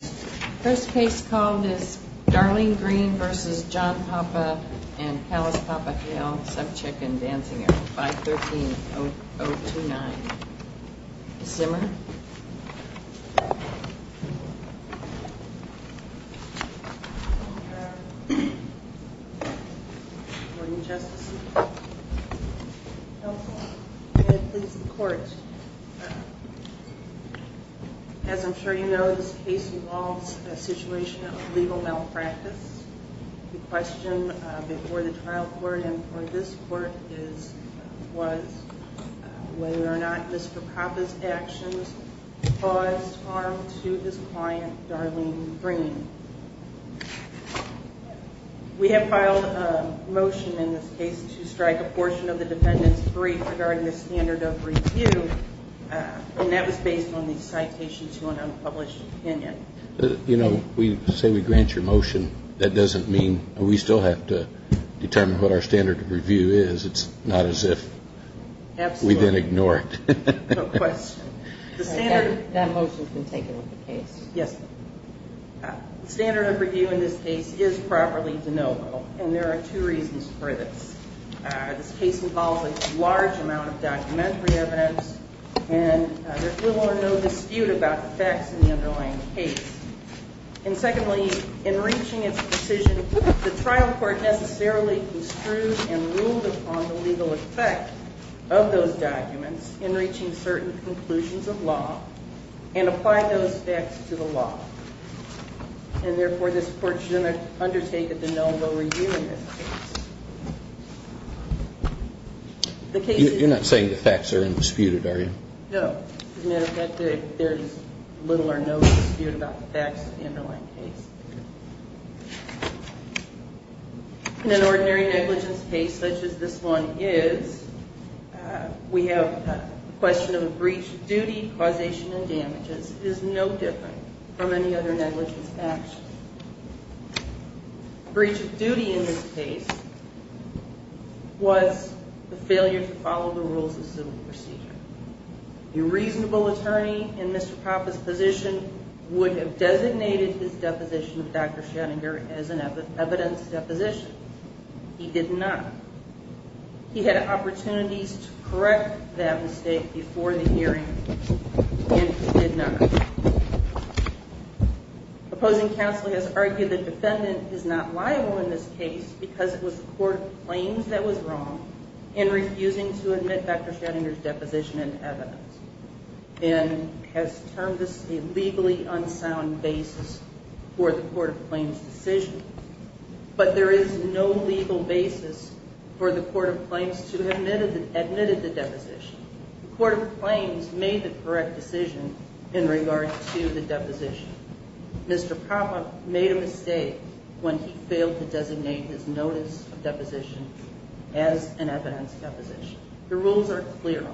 The first case called is Darlene Green v. John Papa and Pallas Papa Hale, Subchick and Dancing at 513-029. Ms. Zimmer? Good morning, Justice. As I'm sure you know, this case involves a situation of legal malpractice. The question before the trial court and before this court was whether or not Mr. Papa's actions caused harm to his client, Darlene Green. We have filed a motion in this case to strike a portion of the defendant's brief regarding the standard of review, and that was based on the citations to an unpublished opinion. You know, we say we grant your motion. That doesn't mean we still have to determine what our standard of review is. It's not as if we then ignore it. No question. That motion has been taken with the case. Yes, ma'am. The standard of review in this case is properly de novo, and there are two reasons for this. This case involves a large amount of documentary evidence, and there's little or no dispute about the facts in the underlying case. And secondly, in reaching its decision, the trial court necessarily construed and ruled upon the legal effect of those documents in reaching certain conclusions of law and applied those facts to the law. And therefore, this court should undertake a de novo review in this case. You're not saying the facts are indisputed, are you? No. As a matter of fact, there is little or no dispute about the facts in the underlying case. In an ordinary negligence case such as this one is, we have a question of a breach of duty, causation, and damages is no different from any other negligence action. Breach of duty in this case was the failure to follow the rules of civil procedure. A reasonable attorney in Mr. Papa's position would have designated his deposition of Dr. Schrodinger as an evidence deposition. He did not. He had opportunities to correct that mistake before the hearing, and he did not. Opposing counsel has argued the defendant is not liable in this case because it was the court of claims that was wrong in refusing to admit Dr. Schrodinger's deposition in evidence. And has termed this a legally unsound basis for the court of claims decision. But there is no legal basis for the court of claims to have admitted the deposition. The court of claims made the correct decision in regard to the deposition. Mr. Papa made a mistake when he failed to designate his notice of deposition as an evidence deposition. The rules are clear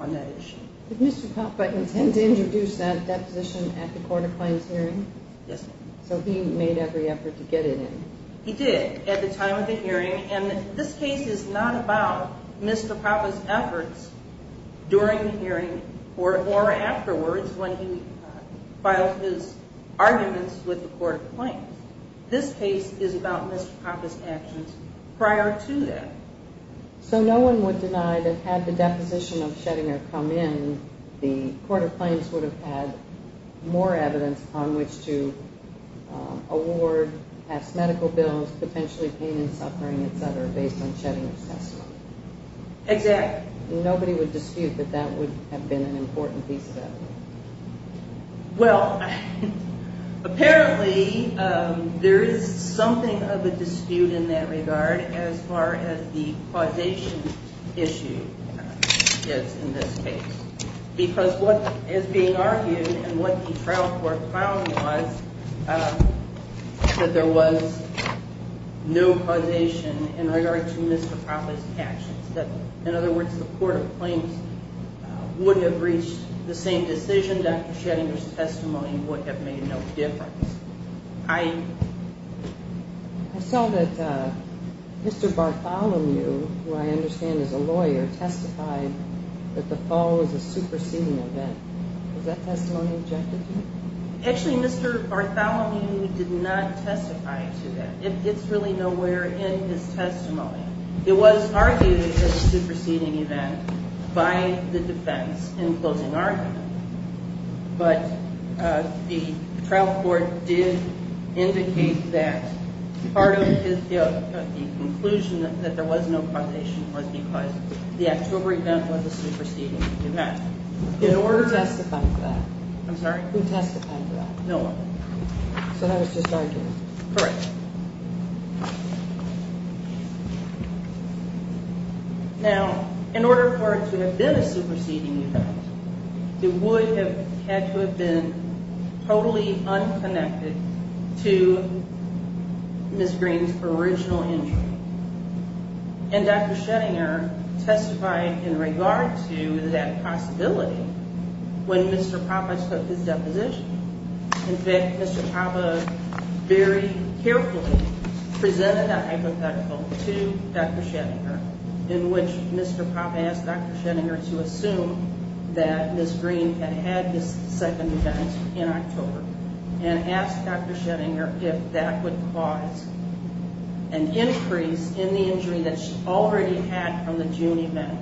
on that issue. Did Mr. Papa intend to introduce that deposition at the court of claims hearing? Yes, ma'am. So he made every effort to get it in? He did at the time of the hearing, and this case is not about Mr. Papa's efforts during the hearing or afterwards when he filed his arguments with the court of claims. This case is about Mr. Papa's actions prior to that. So no one would deny that had the deposition of Schrodinger come in, the court of claims would have had more evidence upon which to award past medical bills, potentially pain and suffering, etc., based on Schrodinger's testimony? Exactly. Nobody would dispute that that would have been an important piece of evidence? Well, apparently there is something of a dispute in that regard as far as the causation issue is in this case because what is being argued and what the trial court found was that there was no causation in regard to Mr. Papa's actions. In other words, the court of claims would have reached the same decision. Dr. Schrodinger's testimony would have made no difference. I saw that Mr. Bartholomew, who I understand is a lawyer, testified that the fall was a superseding event. Was that testimony objective to you? Actually, Mr. Bartholomew did not testify to that. It gets really nowhere in his testimony. It was argued it was a superseding event by the defense in closing argument, but the trial court did indicate that part of the conclusion that there was no causation was because the October event was a superseding event. Who testified to that? I'm sorry? Who testified to that? No one. So that was just argued? Correct. Now, in order for it to have been a superseding event, it would have had to have been totally unconnected to Miss Green's original injury. And Dr. Schrodinger testified in regard to that possibility when Mr. Papa took his deposition. In fact, Mr. Papa very carefully presented a hypothetical to Dr. Schrodinger in which Mr. Papa asked Dr. Schrodinger to assume that Miss Green had had this second event in October and asked Dr. Schrodinger if that would cause an increase in the injury that she already had from the June event.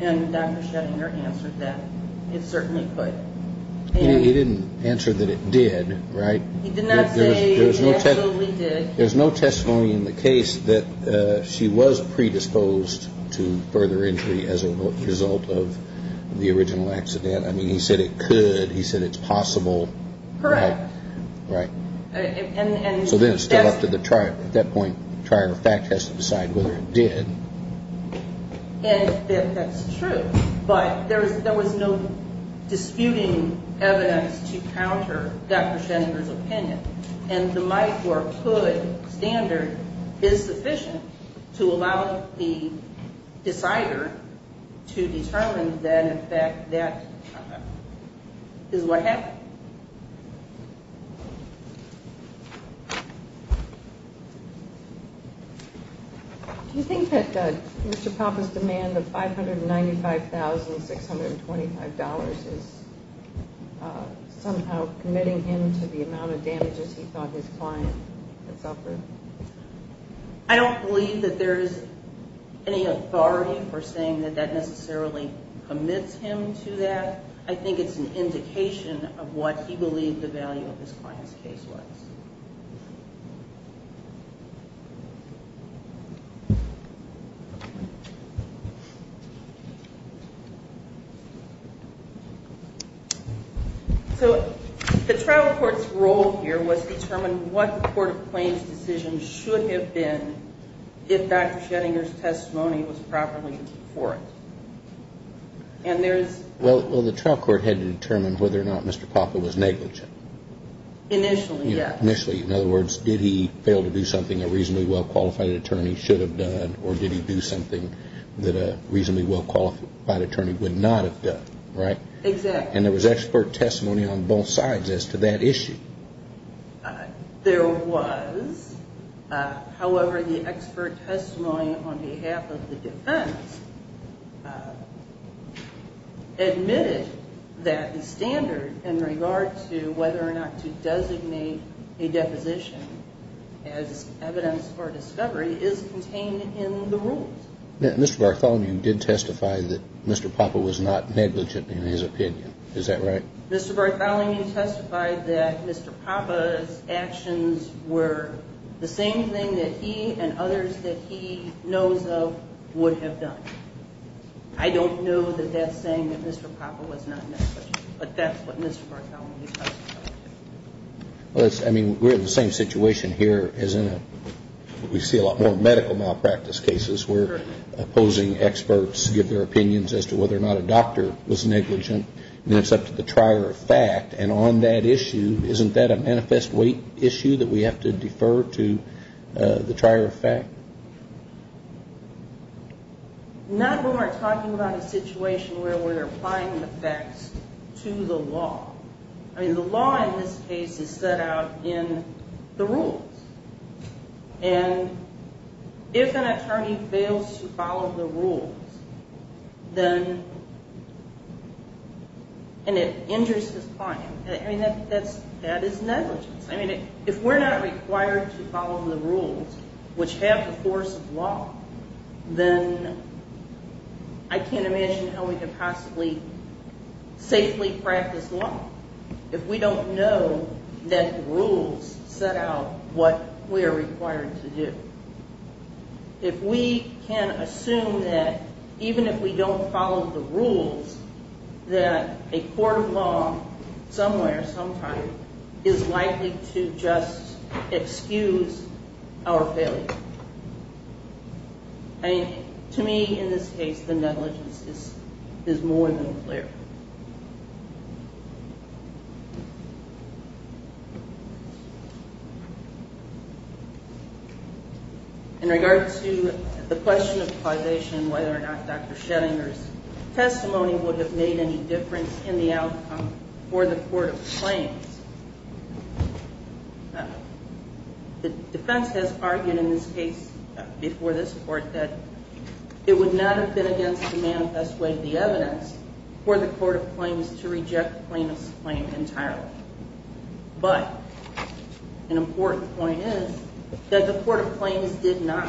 And Dr. Schrodinger answered that it certainly could. He didn't answer that it did, right? He did not say it absolutely did. There's no testimony in the case that she was predisposed to further injury as a result of the original accident. I mean, he said it could. He said it's possible. Correct. Right. And so then it's up to the trial. At that point, trial fact has to decide whether it did. And that's true. But there was no disputing evidence to counter Dr. Schrodinger's opinion. And the might or could standard is sufficient to allow the decider to determine that, in fact, that is what happened. Okay. Do you think that Mr. Papa's demand of $595,625 is somehow committing him to the amount of damages he thought his client had suffered? I don't believe that there is any authority for saying that that necessarily commits him to that. I think it's an indication of what he believed the value of his client's case was. So the trial court's role here was to determine what the court of claims decision should have been if Dr. Schrodinger's testimony was properly before it. Well, the trial court had to determine whether or not Mr. Papa was negligent. Initially, yes. Initially. In other words, did he fail to do something a reasonably well-qualified attorney should have done, or did he do something that a reasonably well-qualified attorney would not have done, right? Exactly. And there was expert testimony on both sides as to that issue. There was. However, the expert testimony on behalf of the defense admitted that the standard in regard to whether or not to designate a deposition as evidence for discovery is contained in the rules. Mr. Bartholomew did testify that Mr. Papa was not negligent in his opinion. Is that right? Mr. Bartholomew testified that Mr. Papa's actions were the same thing that he and others that he knows of would have done. I don't know that that's saying that Mr. Papa was not negligent, but that's what Mr. Bartholomew testified. I mean, we're in the same situation here as in a we see a lot more medical malpractice cases where opposing experts give their opinions as to whether or not a doctor was negligent. And it's up to the trier of fact. And on that issue, isn't that a manifest weight issue that we have to defer to the trier of fact? Not when we're talking about a situation where we're applying the facts to the law. I mean, the law in this case is set out in the rules. And if an attorney fails to follow the rules, then it injures his client. I mean, that is negligence. I mean, if we're not required to follow the rules, which have the force of law, then I can't imagine how we could possibly safely practice law if we don't know that the rules set out what we are required to do. If we can assume that even if we don't follow the rules, that a court of law somewhere, sometime, is likely to just excuse our failure. I mean, to me, in this case, the negligence is more than clear. In regard to the question of causation, whether or not Dr. Schettinger's testimony would have made any difference in the outcome for the court of claims, the defense has argued in this case before this court that it would not have been against the manifest weight of the evidence for the court of claims to reject the plaintiff's claim entirely. But an important point is that the court of claims did not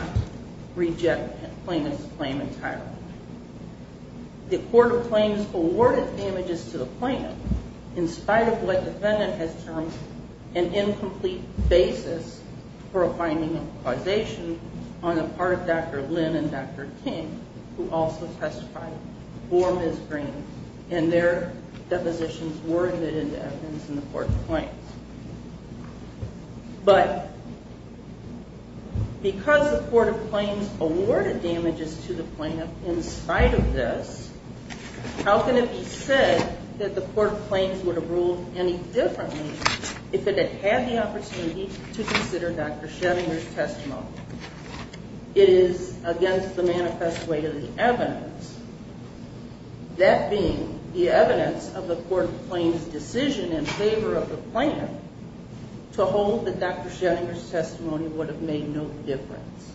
reject the plaintiff's claim entirely. The court of claims awarded images to the plaintiff in spite of what the defendant has termed an incomplete basis for a finding of causation on the part of Dr. Lynn and Dr. King, who also testified for Ms. Green. And their depositions were admitted into evidence in the court of claims. But because the court of claims awarded images to the plaintiff in spite of this, how can it be said that the court of claims would have ruled any differently if it had had the opportunity to consider Dr. Schettinger's testimony? It is against the manifest weight of the evidence, that being the evidence of the court of claims' decision in favor of the plaintiff to hold that Dr. Schettinger's testimony would have made no difference.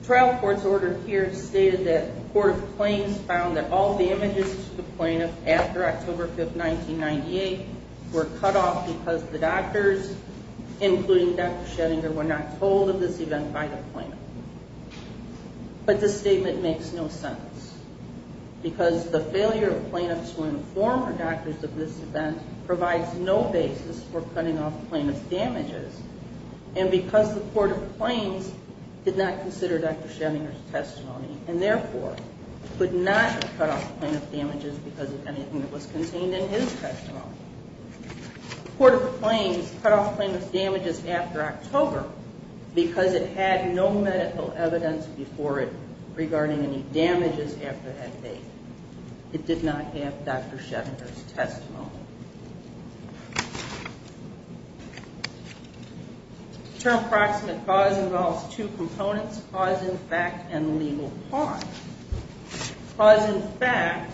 The trial court's order here stated that the court of claims found that all the images to the plaintiff after October 5, 1998 were cut off because the doctors, including Dr. Schettinger, were not told of this event by the plaintiff. But this statement makes no sense, because the failure of plaintiffs to inform the doctors of this event provides no basis for cutting off plaintiff's damages, and because the court of claims did not consider Dr. Schettinger's testimony and therefore could not cut off plaintiff's damages because of anything that was contained in his testimony. The court of claims cut off plaintiff's damages after October because it had no medical evidence before it regarding any damages after that date. It did not have Dr. Schettinger's testimony. The term proximate cause involves two components, cause in fact and legal cause. Cause in fact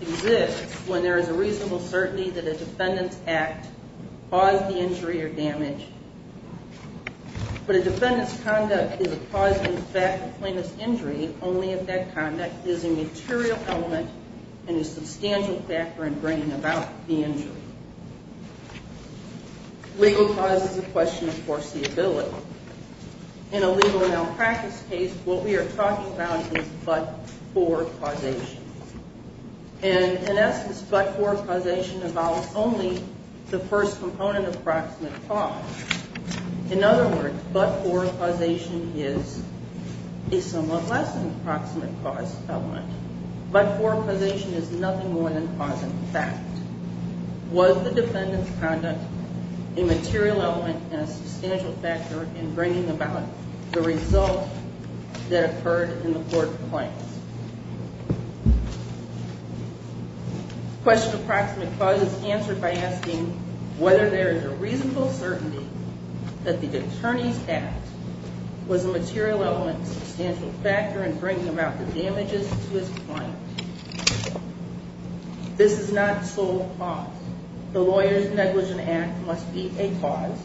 exists when there is a reasonable certainty that a defendant's act caused the injury or damage, but a defendant's conduct is a cause in fact of plaintiff's injury only if that conduct is a material element and a substantial factor in bringing about the injury. Legal cause is a question of foreseeability. In a legal malpractice case, what we are talking about is but-for causation. And in essence, but-for causation involves only the first component of proximate cause. In other words, but-for causation is a somewhat less than proximate cause element. But-for causation is nothing more than cause in fact. Was the defendant's conduct a material element and a substantial factor in bringing about the result that occurred in the court of claims? Question of proximate cause is answered by asking whether there is a reasonable certainty that the attorney's act was a material element and a substantial factor in bringing about the damages to his client. This is not the sole cause. The Lawyer's Negligent Act must be a cause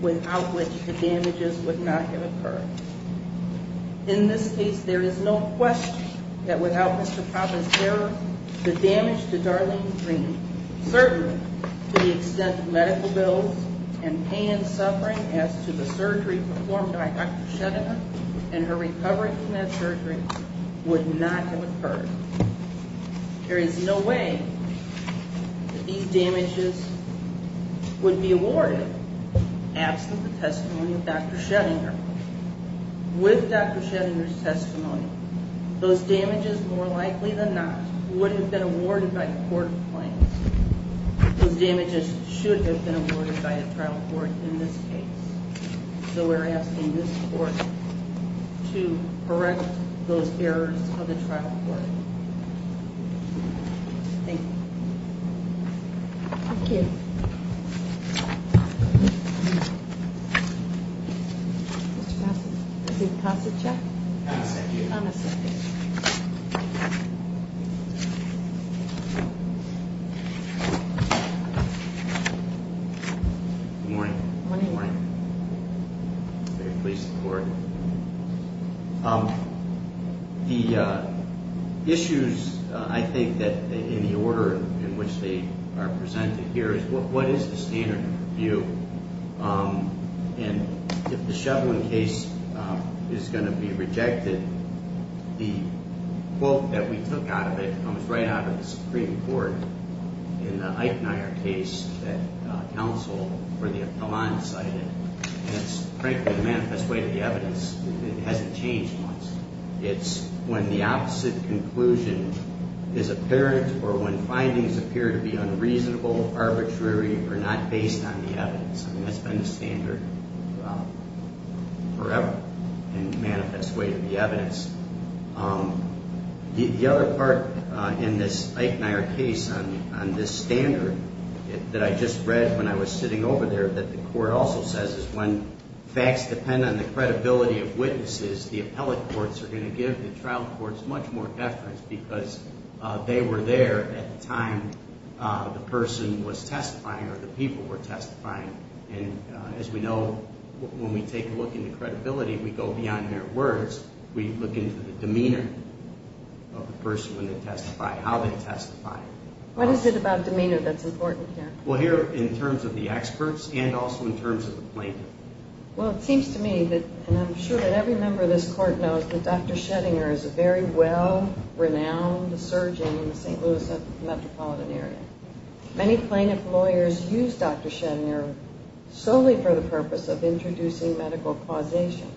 without which the damages would not have occurred. In this case, there is no question that without Mr. Provence's error, the damage to Darlene Green, certainly to the extent of medical bills and pain and suffering as to the surgery performed by Dr. Shedder and her recovery from that surgery, would not have occurred. There is no way that these damages would be awarded absent the testimony of Dr. Sheddinger. With Dr. Sheddinger's testimony, those damages more likely than not would have been awarded by the court of claims. Those damages should have been awarded by the trial court in this case. So we're asking this court to correct those errors of the trial court. Thank you. Mr. Passage. Is it Passage, yeah? Passage. On a second. Good morning. Good morning. I'm very pleased to report. The issues, I think, in the order in which they are presented here, is what is the standard of review? And if the Shevlin case is going to be rejected, the quote that we took out of it comes right out of the Supreme Court in the Eichner case that counsel for the appellant cited. And it's frankly the manifest way to the evidence. It hasn't changed once. It's when the opposite conclusion is apparent or when findings appear to be unreasonable, arbitrary, or not based on the evidence. I mean, that's been the standard forever in the manifest way to the evidence. The other part in this Eichner case on this standard that I just read when I was sitting over there that the court also says is when facts depend on the credibility of witnesses, the appellate courts are going to give the trial courts much more deference because they were there at the time the person was testifying or the people were testifying. And as we know, when we take a look into credibility, we go beyond their words. We look into the demeanor of the person when they testify, how they testify. What is it about demeanor that's important here? Well, here in terms of the experts and also in terms of the plaintiff. Well, it seems to me that, and I'm sure that every member of this court knows, that Dr. Schettinger is a very well-renowned surgeon in the St. Louis metropolitan area. Many plaintiff lawyers use Dr. Schettinger solely for the purpose of introducing medical causation.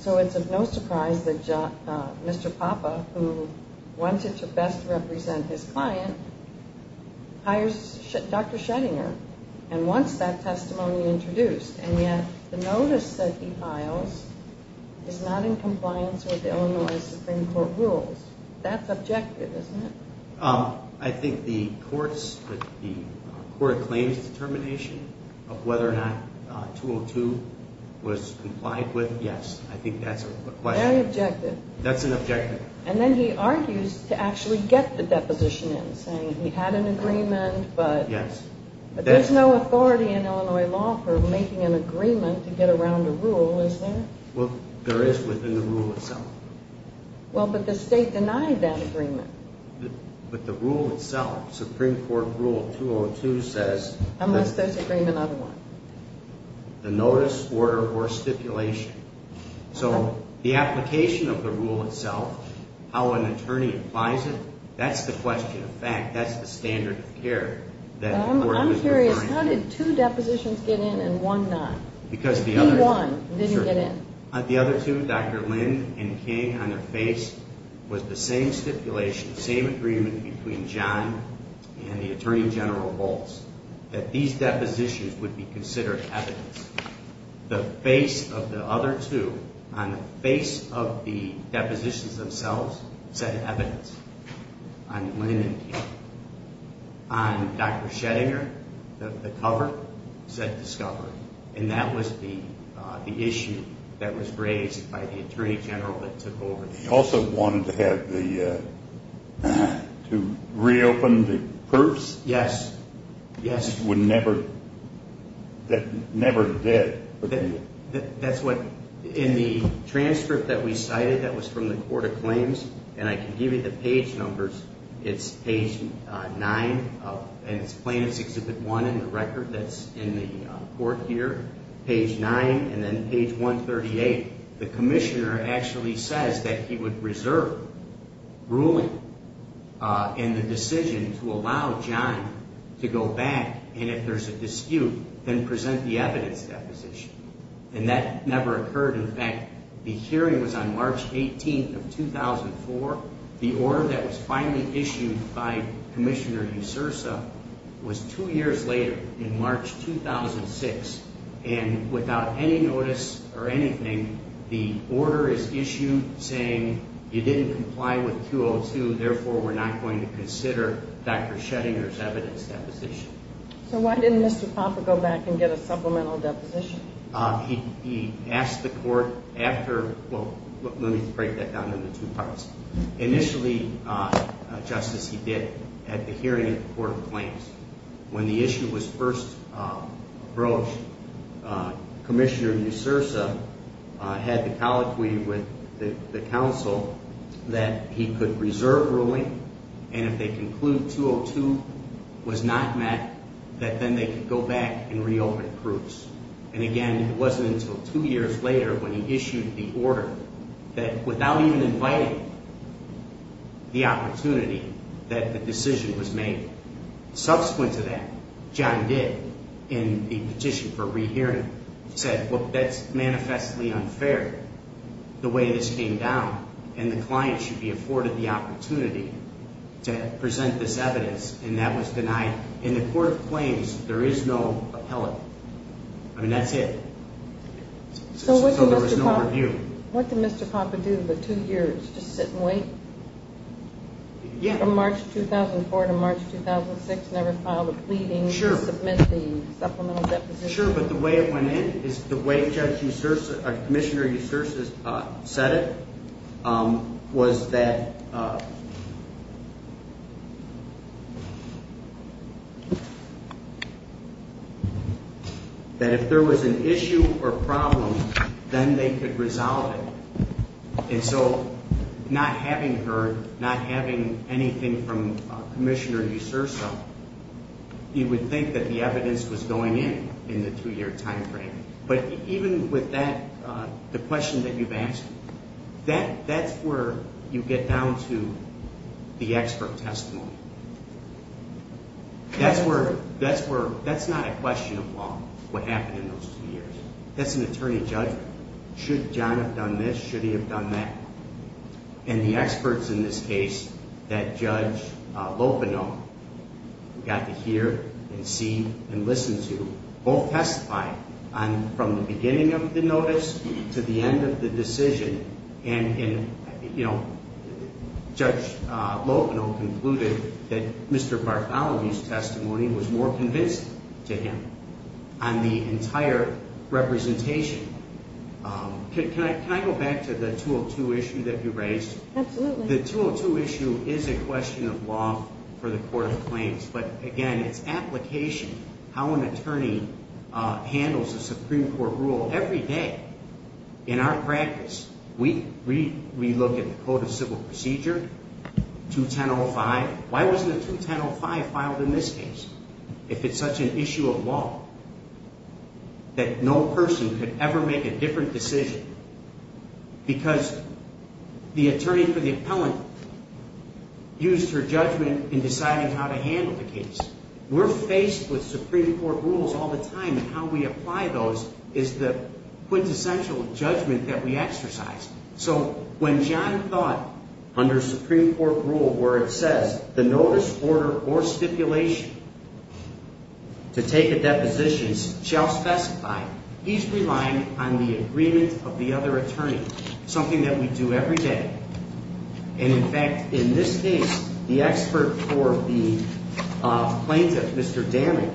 So it's of no surprise that Mr. Papa, who wanted to best represent his client, hires Dr. Schettinger and wants that testimony introduced, and yet the notice that he files is not in compliance with Illinois Supreme Court rules. That's objective, isn't it? I think the courts, the court claims determination of whether or not 202 was complied with, yes. I think that's a question. Very objective. That's an objective. And then he argues to actually get the deposition in, saying he had an agreement, but there's no authority in Illinois law for making an agreement to get around a rule, is there? Well, there is within the rule itself. Well, but the state denied that agreement. But the rule itself, Supreme Court Rule 202 says that— Unless there's agreement on one. The notice, order, or stipulation. So the application of the rule itself, how an attorney applies it, that's the question of fact. That's the standard of care that the court is requiring. I'm curious. How did two depositions get in and one not? Because the other— He won. Didn't get in. The other two, Dr. Lin and King, on their face was the same stipulation, same agreement between John and the Attorney General Volz, that these depositions would be considered evidence. The face of the other two, on the face of the depositions themselves, said evidence. On Lin and King. On Dr. Schrodinger, the cover, said discovery. And that was the issue that was raised by the Attorney General that took over. He also wanted to have the—to reopen the proofs? Yes. That never did. That's what—in the transcript that we cited, that was from the Court of Claims, and I can give you the page numbers. It's page 9, and it's plaintiff's Exhibit 1 in the record that's in the court here. Page 9 and then page 138. The Commissioner actually says that he would reserve ruling and the decision to allow John to go back, and if there's a dispute, then present the evidence deposition. And that never occurred. In fact, the hearing was on March 18th of 2004. The order that was finally issued by Commissioner Usursa was two years later, in March 2006. And without any notice or anything, the order is issued saying you didn't comply with Q02, therefore we're not going to consider Dr. Schrodinger's evidence deposition. So why didn't Mr. Popper go back and get a supplemental deposition? He asked the court after—well, let me break that down into two parts. Initially, Justice, he did at the hearing at the Court of Claims. When the issue was first approached, Commissioner Usursa had the colloquy with the counsel that he could reserve ruling, and if they conclude Q02 was not met, that then they could go back and re-open proofs. And again, it wasn't until two years later when he issued the order that, without even inviting the opportunity, that the decision was made. Subsequent to that, John did, in the petition for re-hearing, said, well, that's manifestly unfair, the way this came down, and the client should be afforded the opportunity to present this evidence, and that was denied. In the Court of Claims, there is no appellate. I mean, that's it. So there was no review. What did Mr. Papa do for two years, just sit and wait? From March 2004 to March 2006, never filed a pleading to submit the supplemental deposition? Sure, but the way it went in is the way Commissioner Usursa said it was that if there was an issue or problem, then they could resolve it. And so not having heard, not having anything from Commissioner Usursa, you would think that the evidence was going in in the two-year timeframe. But even with that, the question that you've asked, that's where you get down to the expert testimony. That's not a question of law, what happened in those two years. That's an attorney judgment. Should John have done this? Should he have done that? And the experts in this case that Judge Lopino got to hear and see and listen to both testified from the beginning of the notice to the end of the decision. And Judge Lopino concluded that Mr. Bartholomew's testimony was more convincing to him on the entire representation. Can I go back to the 202 issue that you raised? Absolutely. The 202 issue is a question of law for the Court of Claims. But again, it's application, how an attorney handles a Supreme Court rule every day. In our practice, we look at the Code of Civil Procedure, 21005. Why wasn't a 21005 filed in this case? If it's such an issue of law that no person could ever make a different decision because the attorney for the appellant used her judgment in deciding how to handle it. We're faced with Supreme Court rules all the time. How we apply those is the quintessential judgment that we exercise. So when John thought under Supreme Court rule where it says, the notice, order, or stipulation to take a deposition shall specify, he's relying on the agreement of the other attorney. Something that we do every day. In fact, in this case, the expert for the plaintiff, Mr. Damick,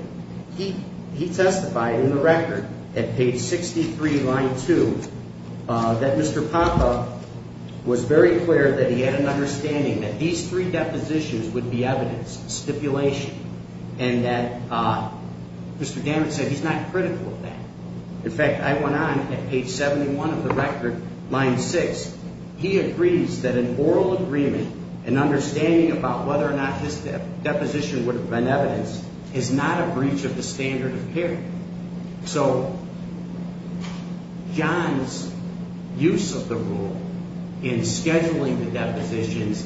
he testified in the record at page 63, line 2, that Mr. Popov was very clear that he had an understanding that these three depositions would be evidence, stipulation, and that Mr. Damick said he's not critical of that. In fact, I went on at page 71 of the record, line 6. He agrees that an oral agreement, an understanding about whether or not this deposition would have been evidence, is not a breach of the standard of care. So John's use of the rule in scheduling the depositions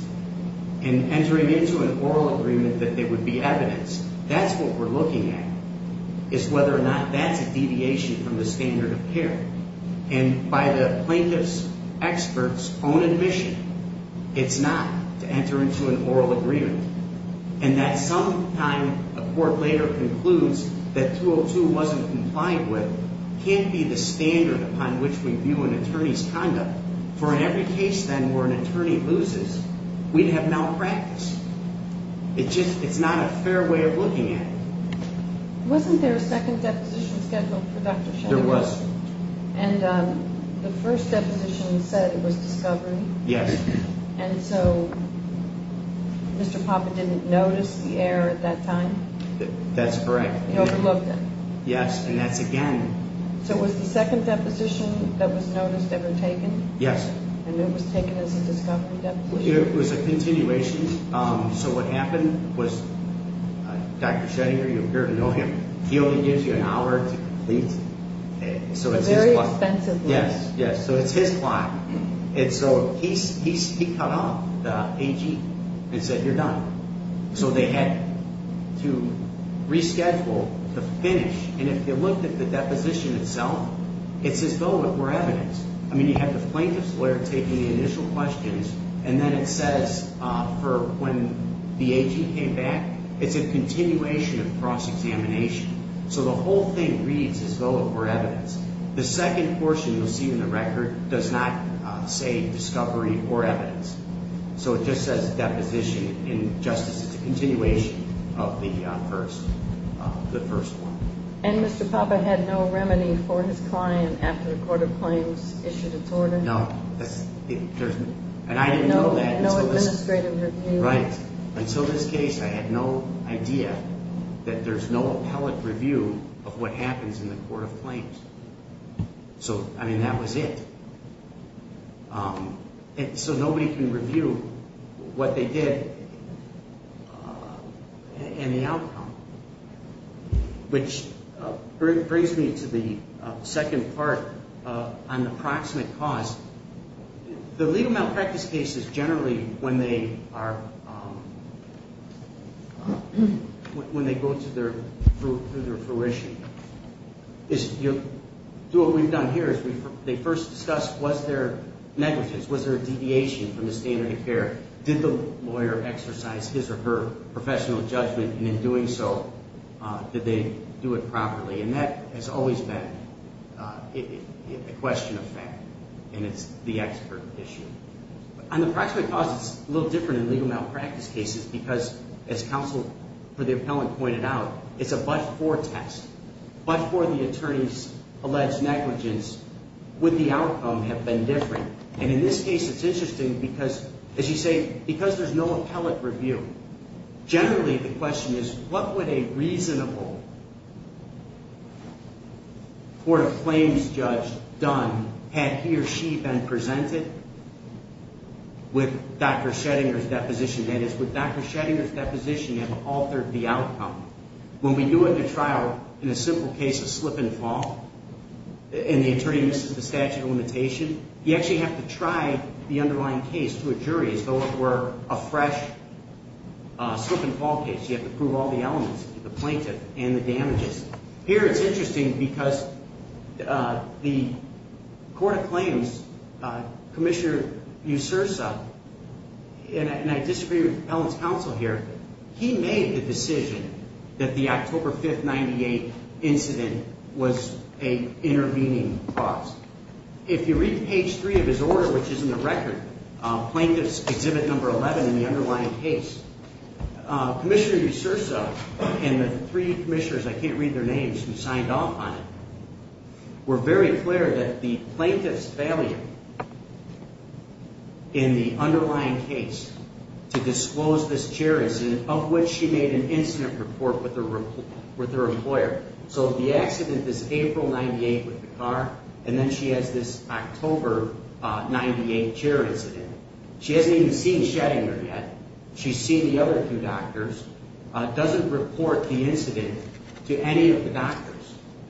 and entering into an oral agreement that they would be evidence, that's what we're looking at, is whether or not that's a deviation from the standard of care. And by the plaintiff's expert's own admission, it's not to enter into an oral agreement. And that sometime a court later concludes that 202 wasn't compliant with can't be the standard upon which we view an attorney's conduct. For in every case then where an attorney loses, we'd have malpractice. It's not a fair way of looking at it. Wasn't there a second deposition scheduled for Dr. Sheldon? There was. And the first deposition said it was discovery. Yes. And so Mr. Papa didn't notice the error at that time? That's correct. He overlooked it. Yes, and that's again. So was the second deposition that was noticed ever taken? Yes. And it was taken as a discovery deposition? It was a continuation. So what happened was Dr. Sheddinger, you appear to know him, he only gives you an hour to complete. So it's his clock. Very expensive. Yes, yes. So it's his clock. And so he cut off the AG and said, you're done. So they had to reschedule the finish. And if you look at the deposition itself, it's as though it were evidence. I mean, you have the plaintiff's lawyer taking the initial questions, and then it says for when the AG came back, it's a continuation of cross-examination. So the whole thing reads as though it were evidence. The second portion you'll see in the record does not say discovery or evidence. So it just says deposition in justice. It's a continuation of the first one. And Mr. Papa had no remedy for his client after the court of claims issued its order? No. And I didn't know that until this case. No administrative review. Right. Until this case, I had no idea that there's no appellate review of what happens in the court of claims. So, I mean, that was it. So nobody can review what they did and the outcome, which brings me to the second part on the proximate cause. The legal malpractice cases generally, when they go through their fruition, what we've done here is they first discuss was there negligence, was there a deviation from the standard of care, did the lawyer exercise his or her professional judgment, and in doing so, did they do it properly. And that has always been a question of fact. And it's the expert issue. On the proximate cause, it's a little different in legal malpractice cases because, as counsel for the appellant pointed out, it's a but-for test. But for the attorney's alleged negligence, would the outcome have been different? And in this case, it's interesting because, as you say, because there's no appellate review, generally the question is what would a reasonable court of claims judge done had he or she been presented with Dr. Schettinger's deposition? That is, would Dr. Schettinger's deposition have altered the outcome? When we do it in a trial, in a simple case of slip and fall, and the attorney misses the statute of limitation, you actually have to try the underlying case to a jury, as though it were a fresh slip and fall case. You have to prove all the elements, the plaintiff and the damages. Here it's interesting because the court of claims, Commissioner Usursa, and I disagree with the appellant's counsel here, he made the decision that the October 5, 1998 incident was an intervening cause. If you read page 3 of his order, which is in the record, Plaintiff's Exhibit No. 11 in the underlying case, Commissioner Usursa and the three commissioners, I can't read their names, who signed off on it, were very clear that the plaintiff's failure in the underlying case to disclose this jurisdiction, of which she made an incident report with her employer. So the accident is April 1998 with the car, and then she has this October 1998 chair incident. She hasn't even seen Schettinger yet. She's seen the other two doctors, doesn't report the incident to any of the doctors.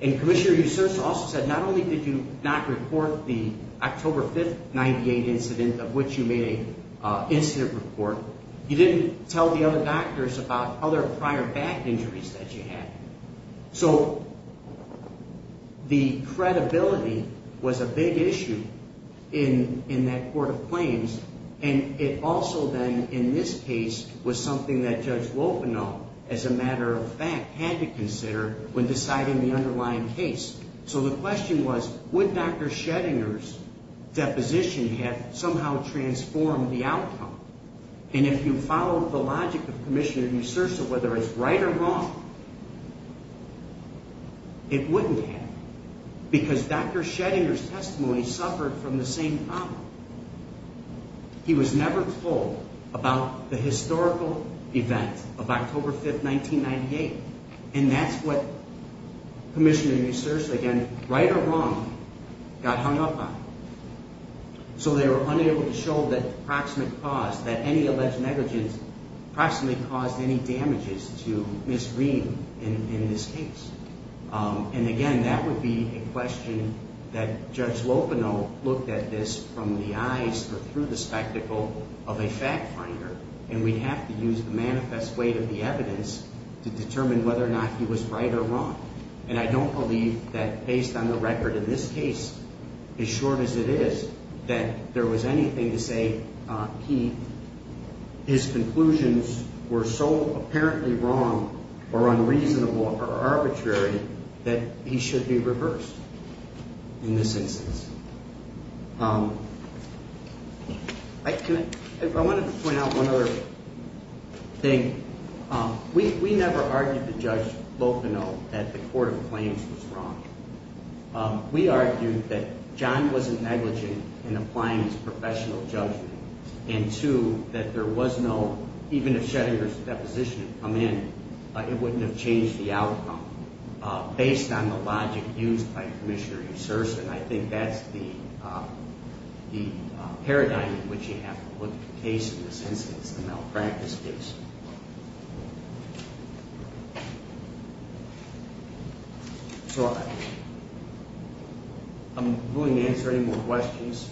And Commissioner Usursa also said not only did you not report the October 5, 1998 incident, of which you made an incident report, you didn't tell the other doctors about other prior back injuries that you had. So the credibility was a big issue in that court of claims, and it also then, in this case, was something that Judge Lopinol, as a matter of fact, had to consider when deciding the underlying case. So the question was, would Dr. Schettinger's deposition have somehow transformed the outcome? And if you follow the logic of Commissioner Usursa, whether it's right or wrong, it wouldn't have, because Dr. Schettinger's testimony suffered from the same problem. He was never told about the historical event of October 5, 1998, and that's what Commissioner Usursa, again, right or wrong, got hung up on. So they were unable to show that any alleged negligence approximately caused any damages to Ms. Reed in this case. And again, that would be a question that Judge Lopinol looked at this from the eyes or through the spectacle of a fact finder, and we'd have to use the manifest weight of the evidence to determine whether or not he was right or wrong. And I don't believe that, based on the record in this case, as short as it is, that there was anything to say his conclusions were so apparently wrong or unreasonable or arbitrary that he should be reversed in this instance. I wanted to point out one other thing. We never argued with Judge Lopinol that the court of claims was wrong. We argued that John wasn't negligent in applying his professional judgment, and two, that there was no, even if Schettinger's deposition had come in, it wouldn't have changed the outcome based on the logic used by Commissioner Usursa, and I think that's the paradigm in which you have to look at the case in this instance, the malpractice case. So I'm willing to answer any more questions.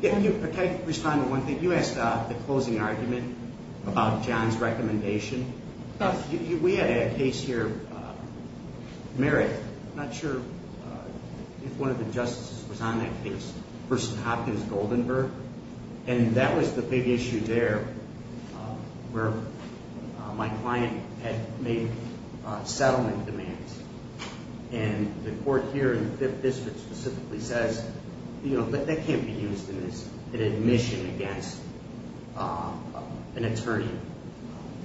Can I respond to one thing? You asked the closing argument about John's recommendation. We had a case here, Merritt, I'm not sure if one of the justices was on that case, versus Hopkins-Goldenberg, and that was the big issue there where my client had made settlement demands, and the court here in the Fifth District specifically says, you know, that can't be used in this, an admission against an attorney.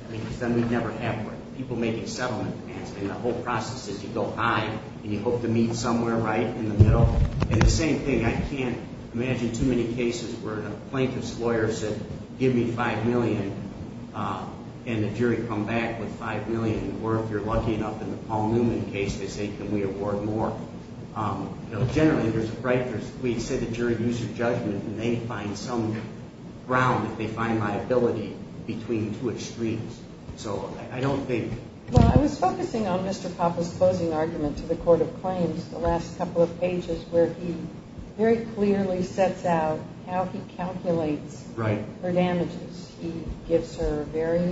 I mean, because then we'd never have one. People making settlement demands, and the whole process is you go high, and you hope to meet somewhere right in the middle. And the same thing, I can't imagine too many cases where the plaintiff's lawyer said, give me $5 million, and the jury come back with $5 million, or if you're lucky enough in the Paul Newman case, they say, can we award more? You know, generally, there's, right, we said the jury used their judgment, and they find some ground if they find liability between two extremes. So I don't think. Well, I was focusing on Mr. Poppe's closing argument to the court of claims the last couple of pages where he very clearly sets out how he calculates her damages. He gives her very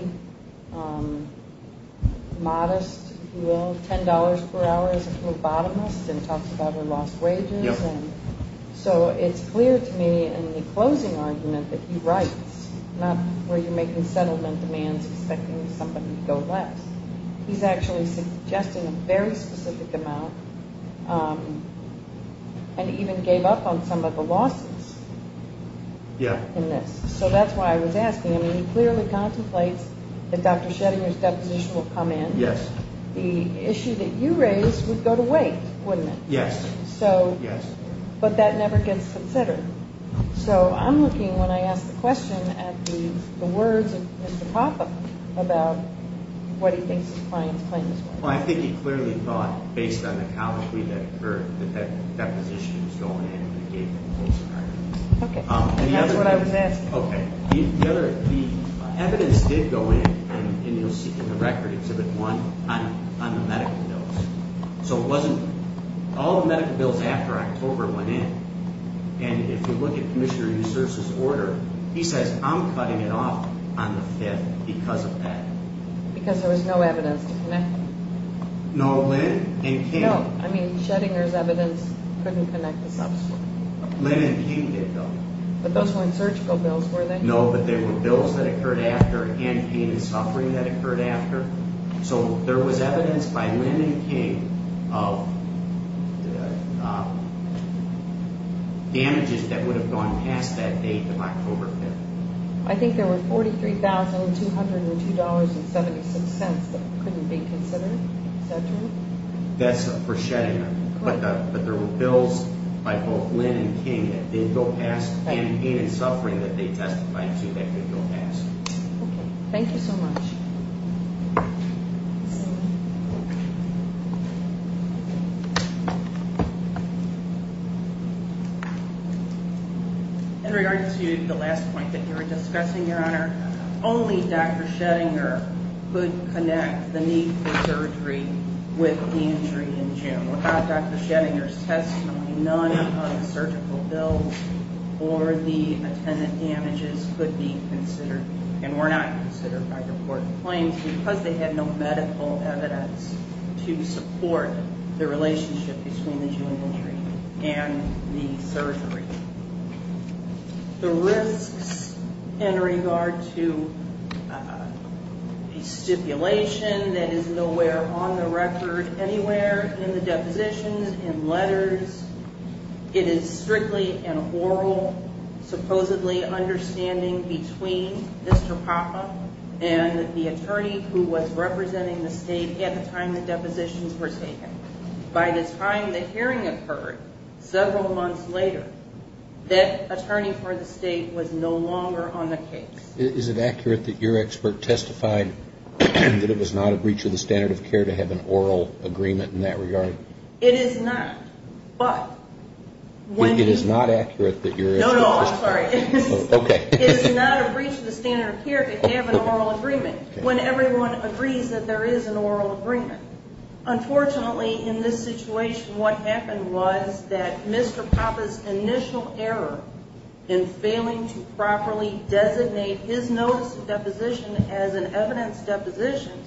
modest, if you will, $10 per hour as a phlebotomist, and talks about her lost wages. And so it's clear to me in the closing argument that he writes, not where you're making settlement demands expecting somebody to go less. He's actually suggesting a very specific amount and even gave up on some of the losses in this. So that's why I was asking. I mean, he clearly contemplates that Dr. Schrodinger's deposition will come in. Yes. The issue that you raised would go to wait, wouldn't it? Yes. So. Yes. But that never gets considered. So I'm looking, when I ask the question, at the words of Mr. Poppe about what he thinks his client's claim is worth. Well, I think he clearly thought, based on the calligraphy that occurred, that that deposition was going in. Okay. And that's what I was asking. Okay. The evidence did go in, and you'll see in the record, Exhibit 1, on the medical bills. So it wasn't, all the medical bills after October went in. And if you look at Commissioner Usurs' order, he says, I'm cutting it off on the 5th because of that. Because there was no evidence to connect them. No, Lynn and Kim. No, I mean, Schrodinger's evidence couldn't connect the substance. Lynn and Kim did, though. But those weren't surgical bills, were they? No, but there were bills that occurred after, and pain and suffering that occurred after. So there was evidence by Lynn and Kim of damages that would have gone past that date of October 5th. I think there were $43,202.76 that couldn't be considered. Is that true? That's for Schrodinger. Correct. But there were bills by both Lynn and Kim that did go past pain and suffering that they testified to that could go past. Okay. Thank you so much. In regard to the last point that you were discussing, Your Honor, only Dr. Schrodinger could connect the need for surgery with the injury in June. Without Dr. Schrodinger's testimony, none of the surgical bills or the attendant damages could be considered and were not considered by the court of claims because they had no medical evidence to support the relationship between the June injury and the surgery. The risks in regard to a stipulation that is nowhere on the record anywhere in the depositions, in letters, it is strictly an oral, supposedly, understanding between Mr. Popham and the attorney who was representing the state at the time the depositions were taken. By the time the hearing occurred, several months later, that attorney for the state was no longer on the case. Is it accurate that your expert testified that it was not a breach of the standard of care to have an oral agreement in that regard? It is not, but when... It is not accurate that your... No, no, I'm sorry. Okay. It is not a breach of the standard of care to have an oral agreement when everyone agrees that there is an oral agreement. Unfortunately, in this situation, what happened was that Mr. Popham's initial error in failing to properly designate his notice of deposition as an evidence deposition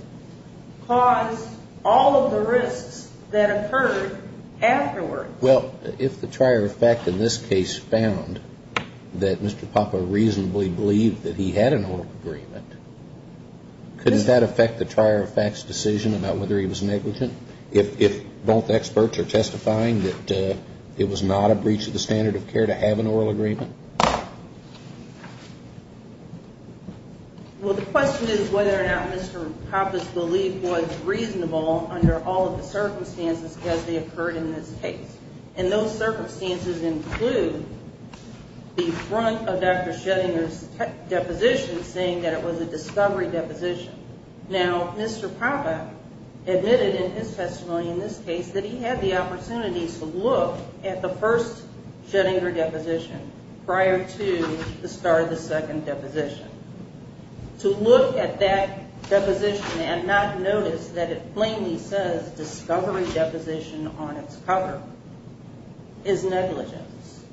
caused all of the risks that occurred afterward. Well, if the trier of fact in this case found that Mr. Popham reasonably believed that he had an oral agreement, couldn't that affect the trier of fact's decision about whether he was negligent if both experts are testifying that it was not a breach of the standard of care to have an oral agreement? Well, the question is whether or not Mr. Popham's belief was reasonable under all of the circumstances as they occurred in this case. And those circumstances include the front of Dr. Schrodinger's deposition saying that it was a discovery deposition. Now, Mr. Popham admitted in his testimony in this case that he had the opportunity to look at the first Schrodinger deposition prior to the start of the second deposition. To look at that deposition and not notice that it plainly says discovery deposition on its cover is negligence.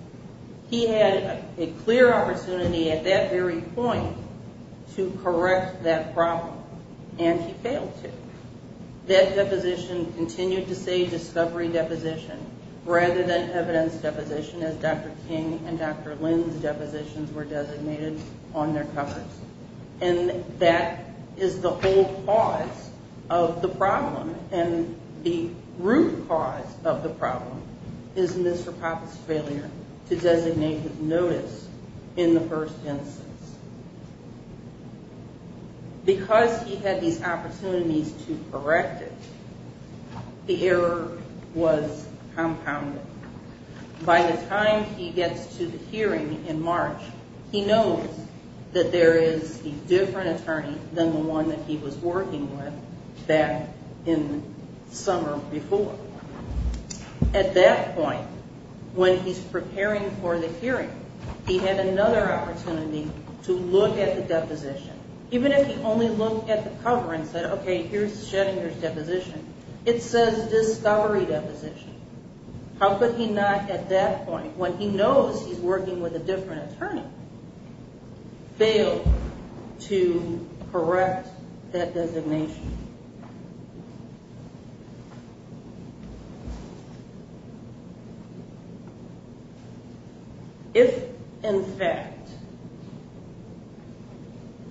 He had a clear opportunity at that very point to correct that problem and he failed to. That deposition continued to say discovery deposition rather than evidence deposition as Dr. King and Dr. Lynn's depositions were designated on their covers. And that is the whole cause of the problem. And the root cause of the problem is Mr. Popham's failure to designate his notice in the first instance. Because he had these opportunities to correct it, the error was compounded. By the time he gets to the hearing in March, he knows that there is a different attorney than the one that he was working with back in the summer before. At that point, when he's preparing for the hearing, he had another opportunity to look at the deposition. Even if he only looked at the cover and said, okay, here's Schrodinger's deposition, it says discovery deposition. How could he not at that point, when he knows he's working with a different attorney, fail to correct that designation? If, in fact,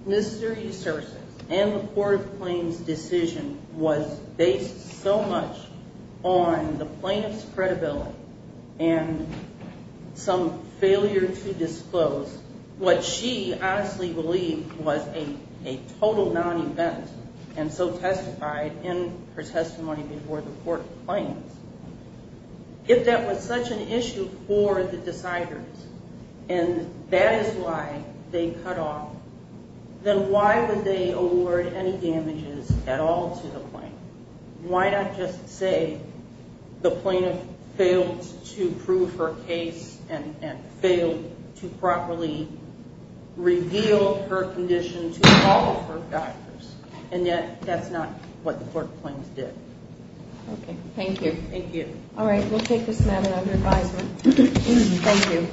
Mr. Esursus and the Court of Claims' decision was based so much on the plaintiff's credibility and some failure to disclose what she honestly believed was a total non-event and so testified in her testimony before the Court of Claims, if that was such an issue for the deciders and that is why they cut off, then why would they award any damages at all to the plaintiff? Why not just say the plaintiff failed to prove her case and failed to properly reveal her condition to all of her doctors? And yet, that's not what the Court of Claims did. Okay, thank you. Thank you. All right, we'll take this matter under advisement. Thank you.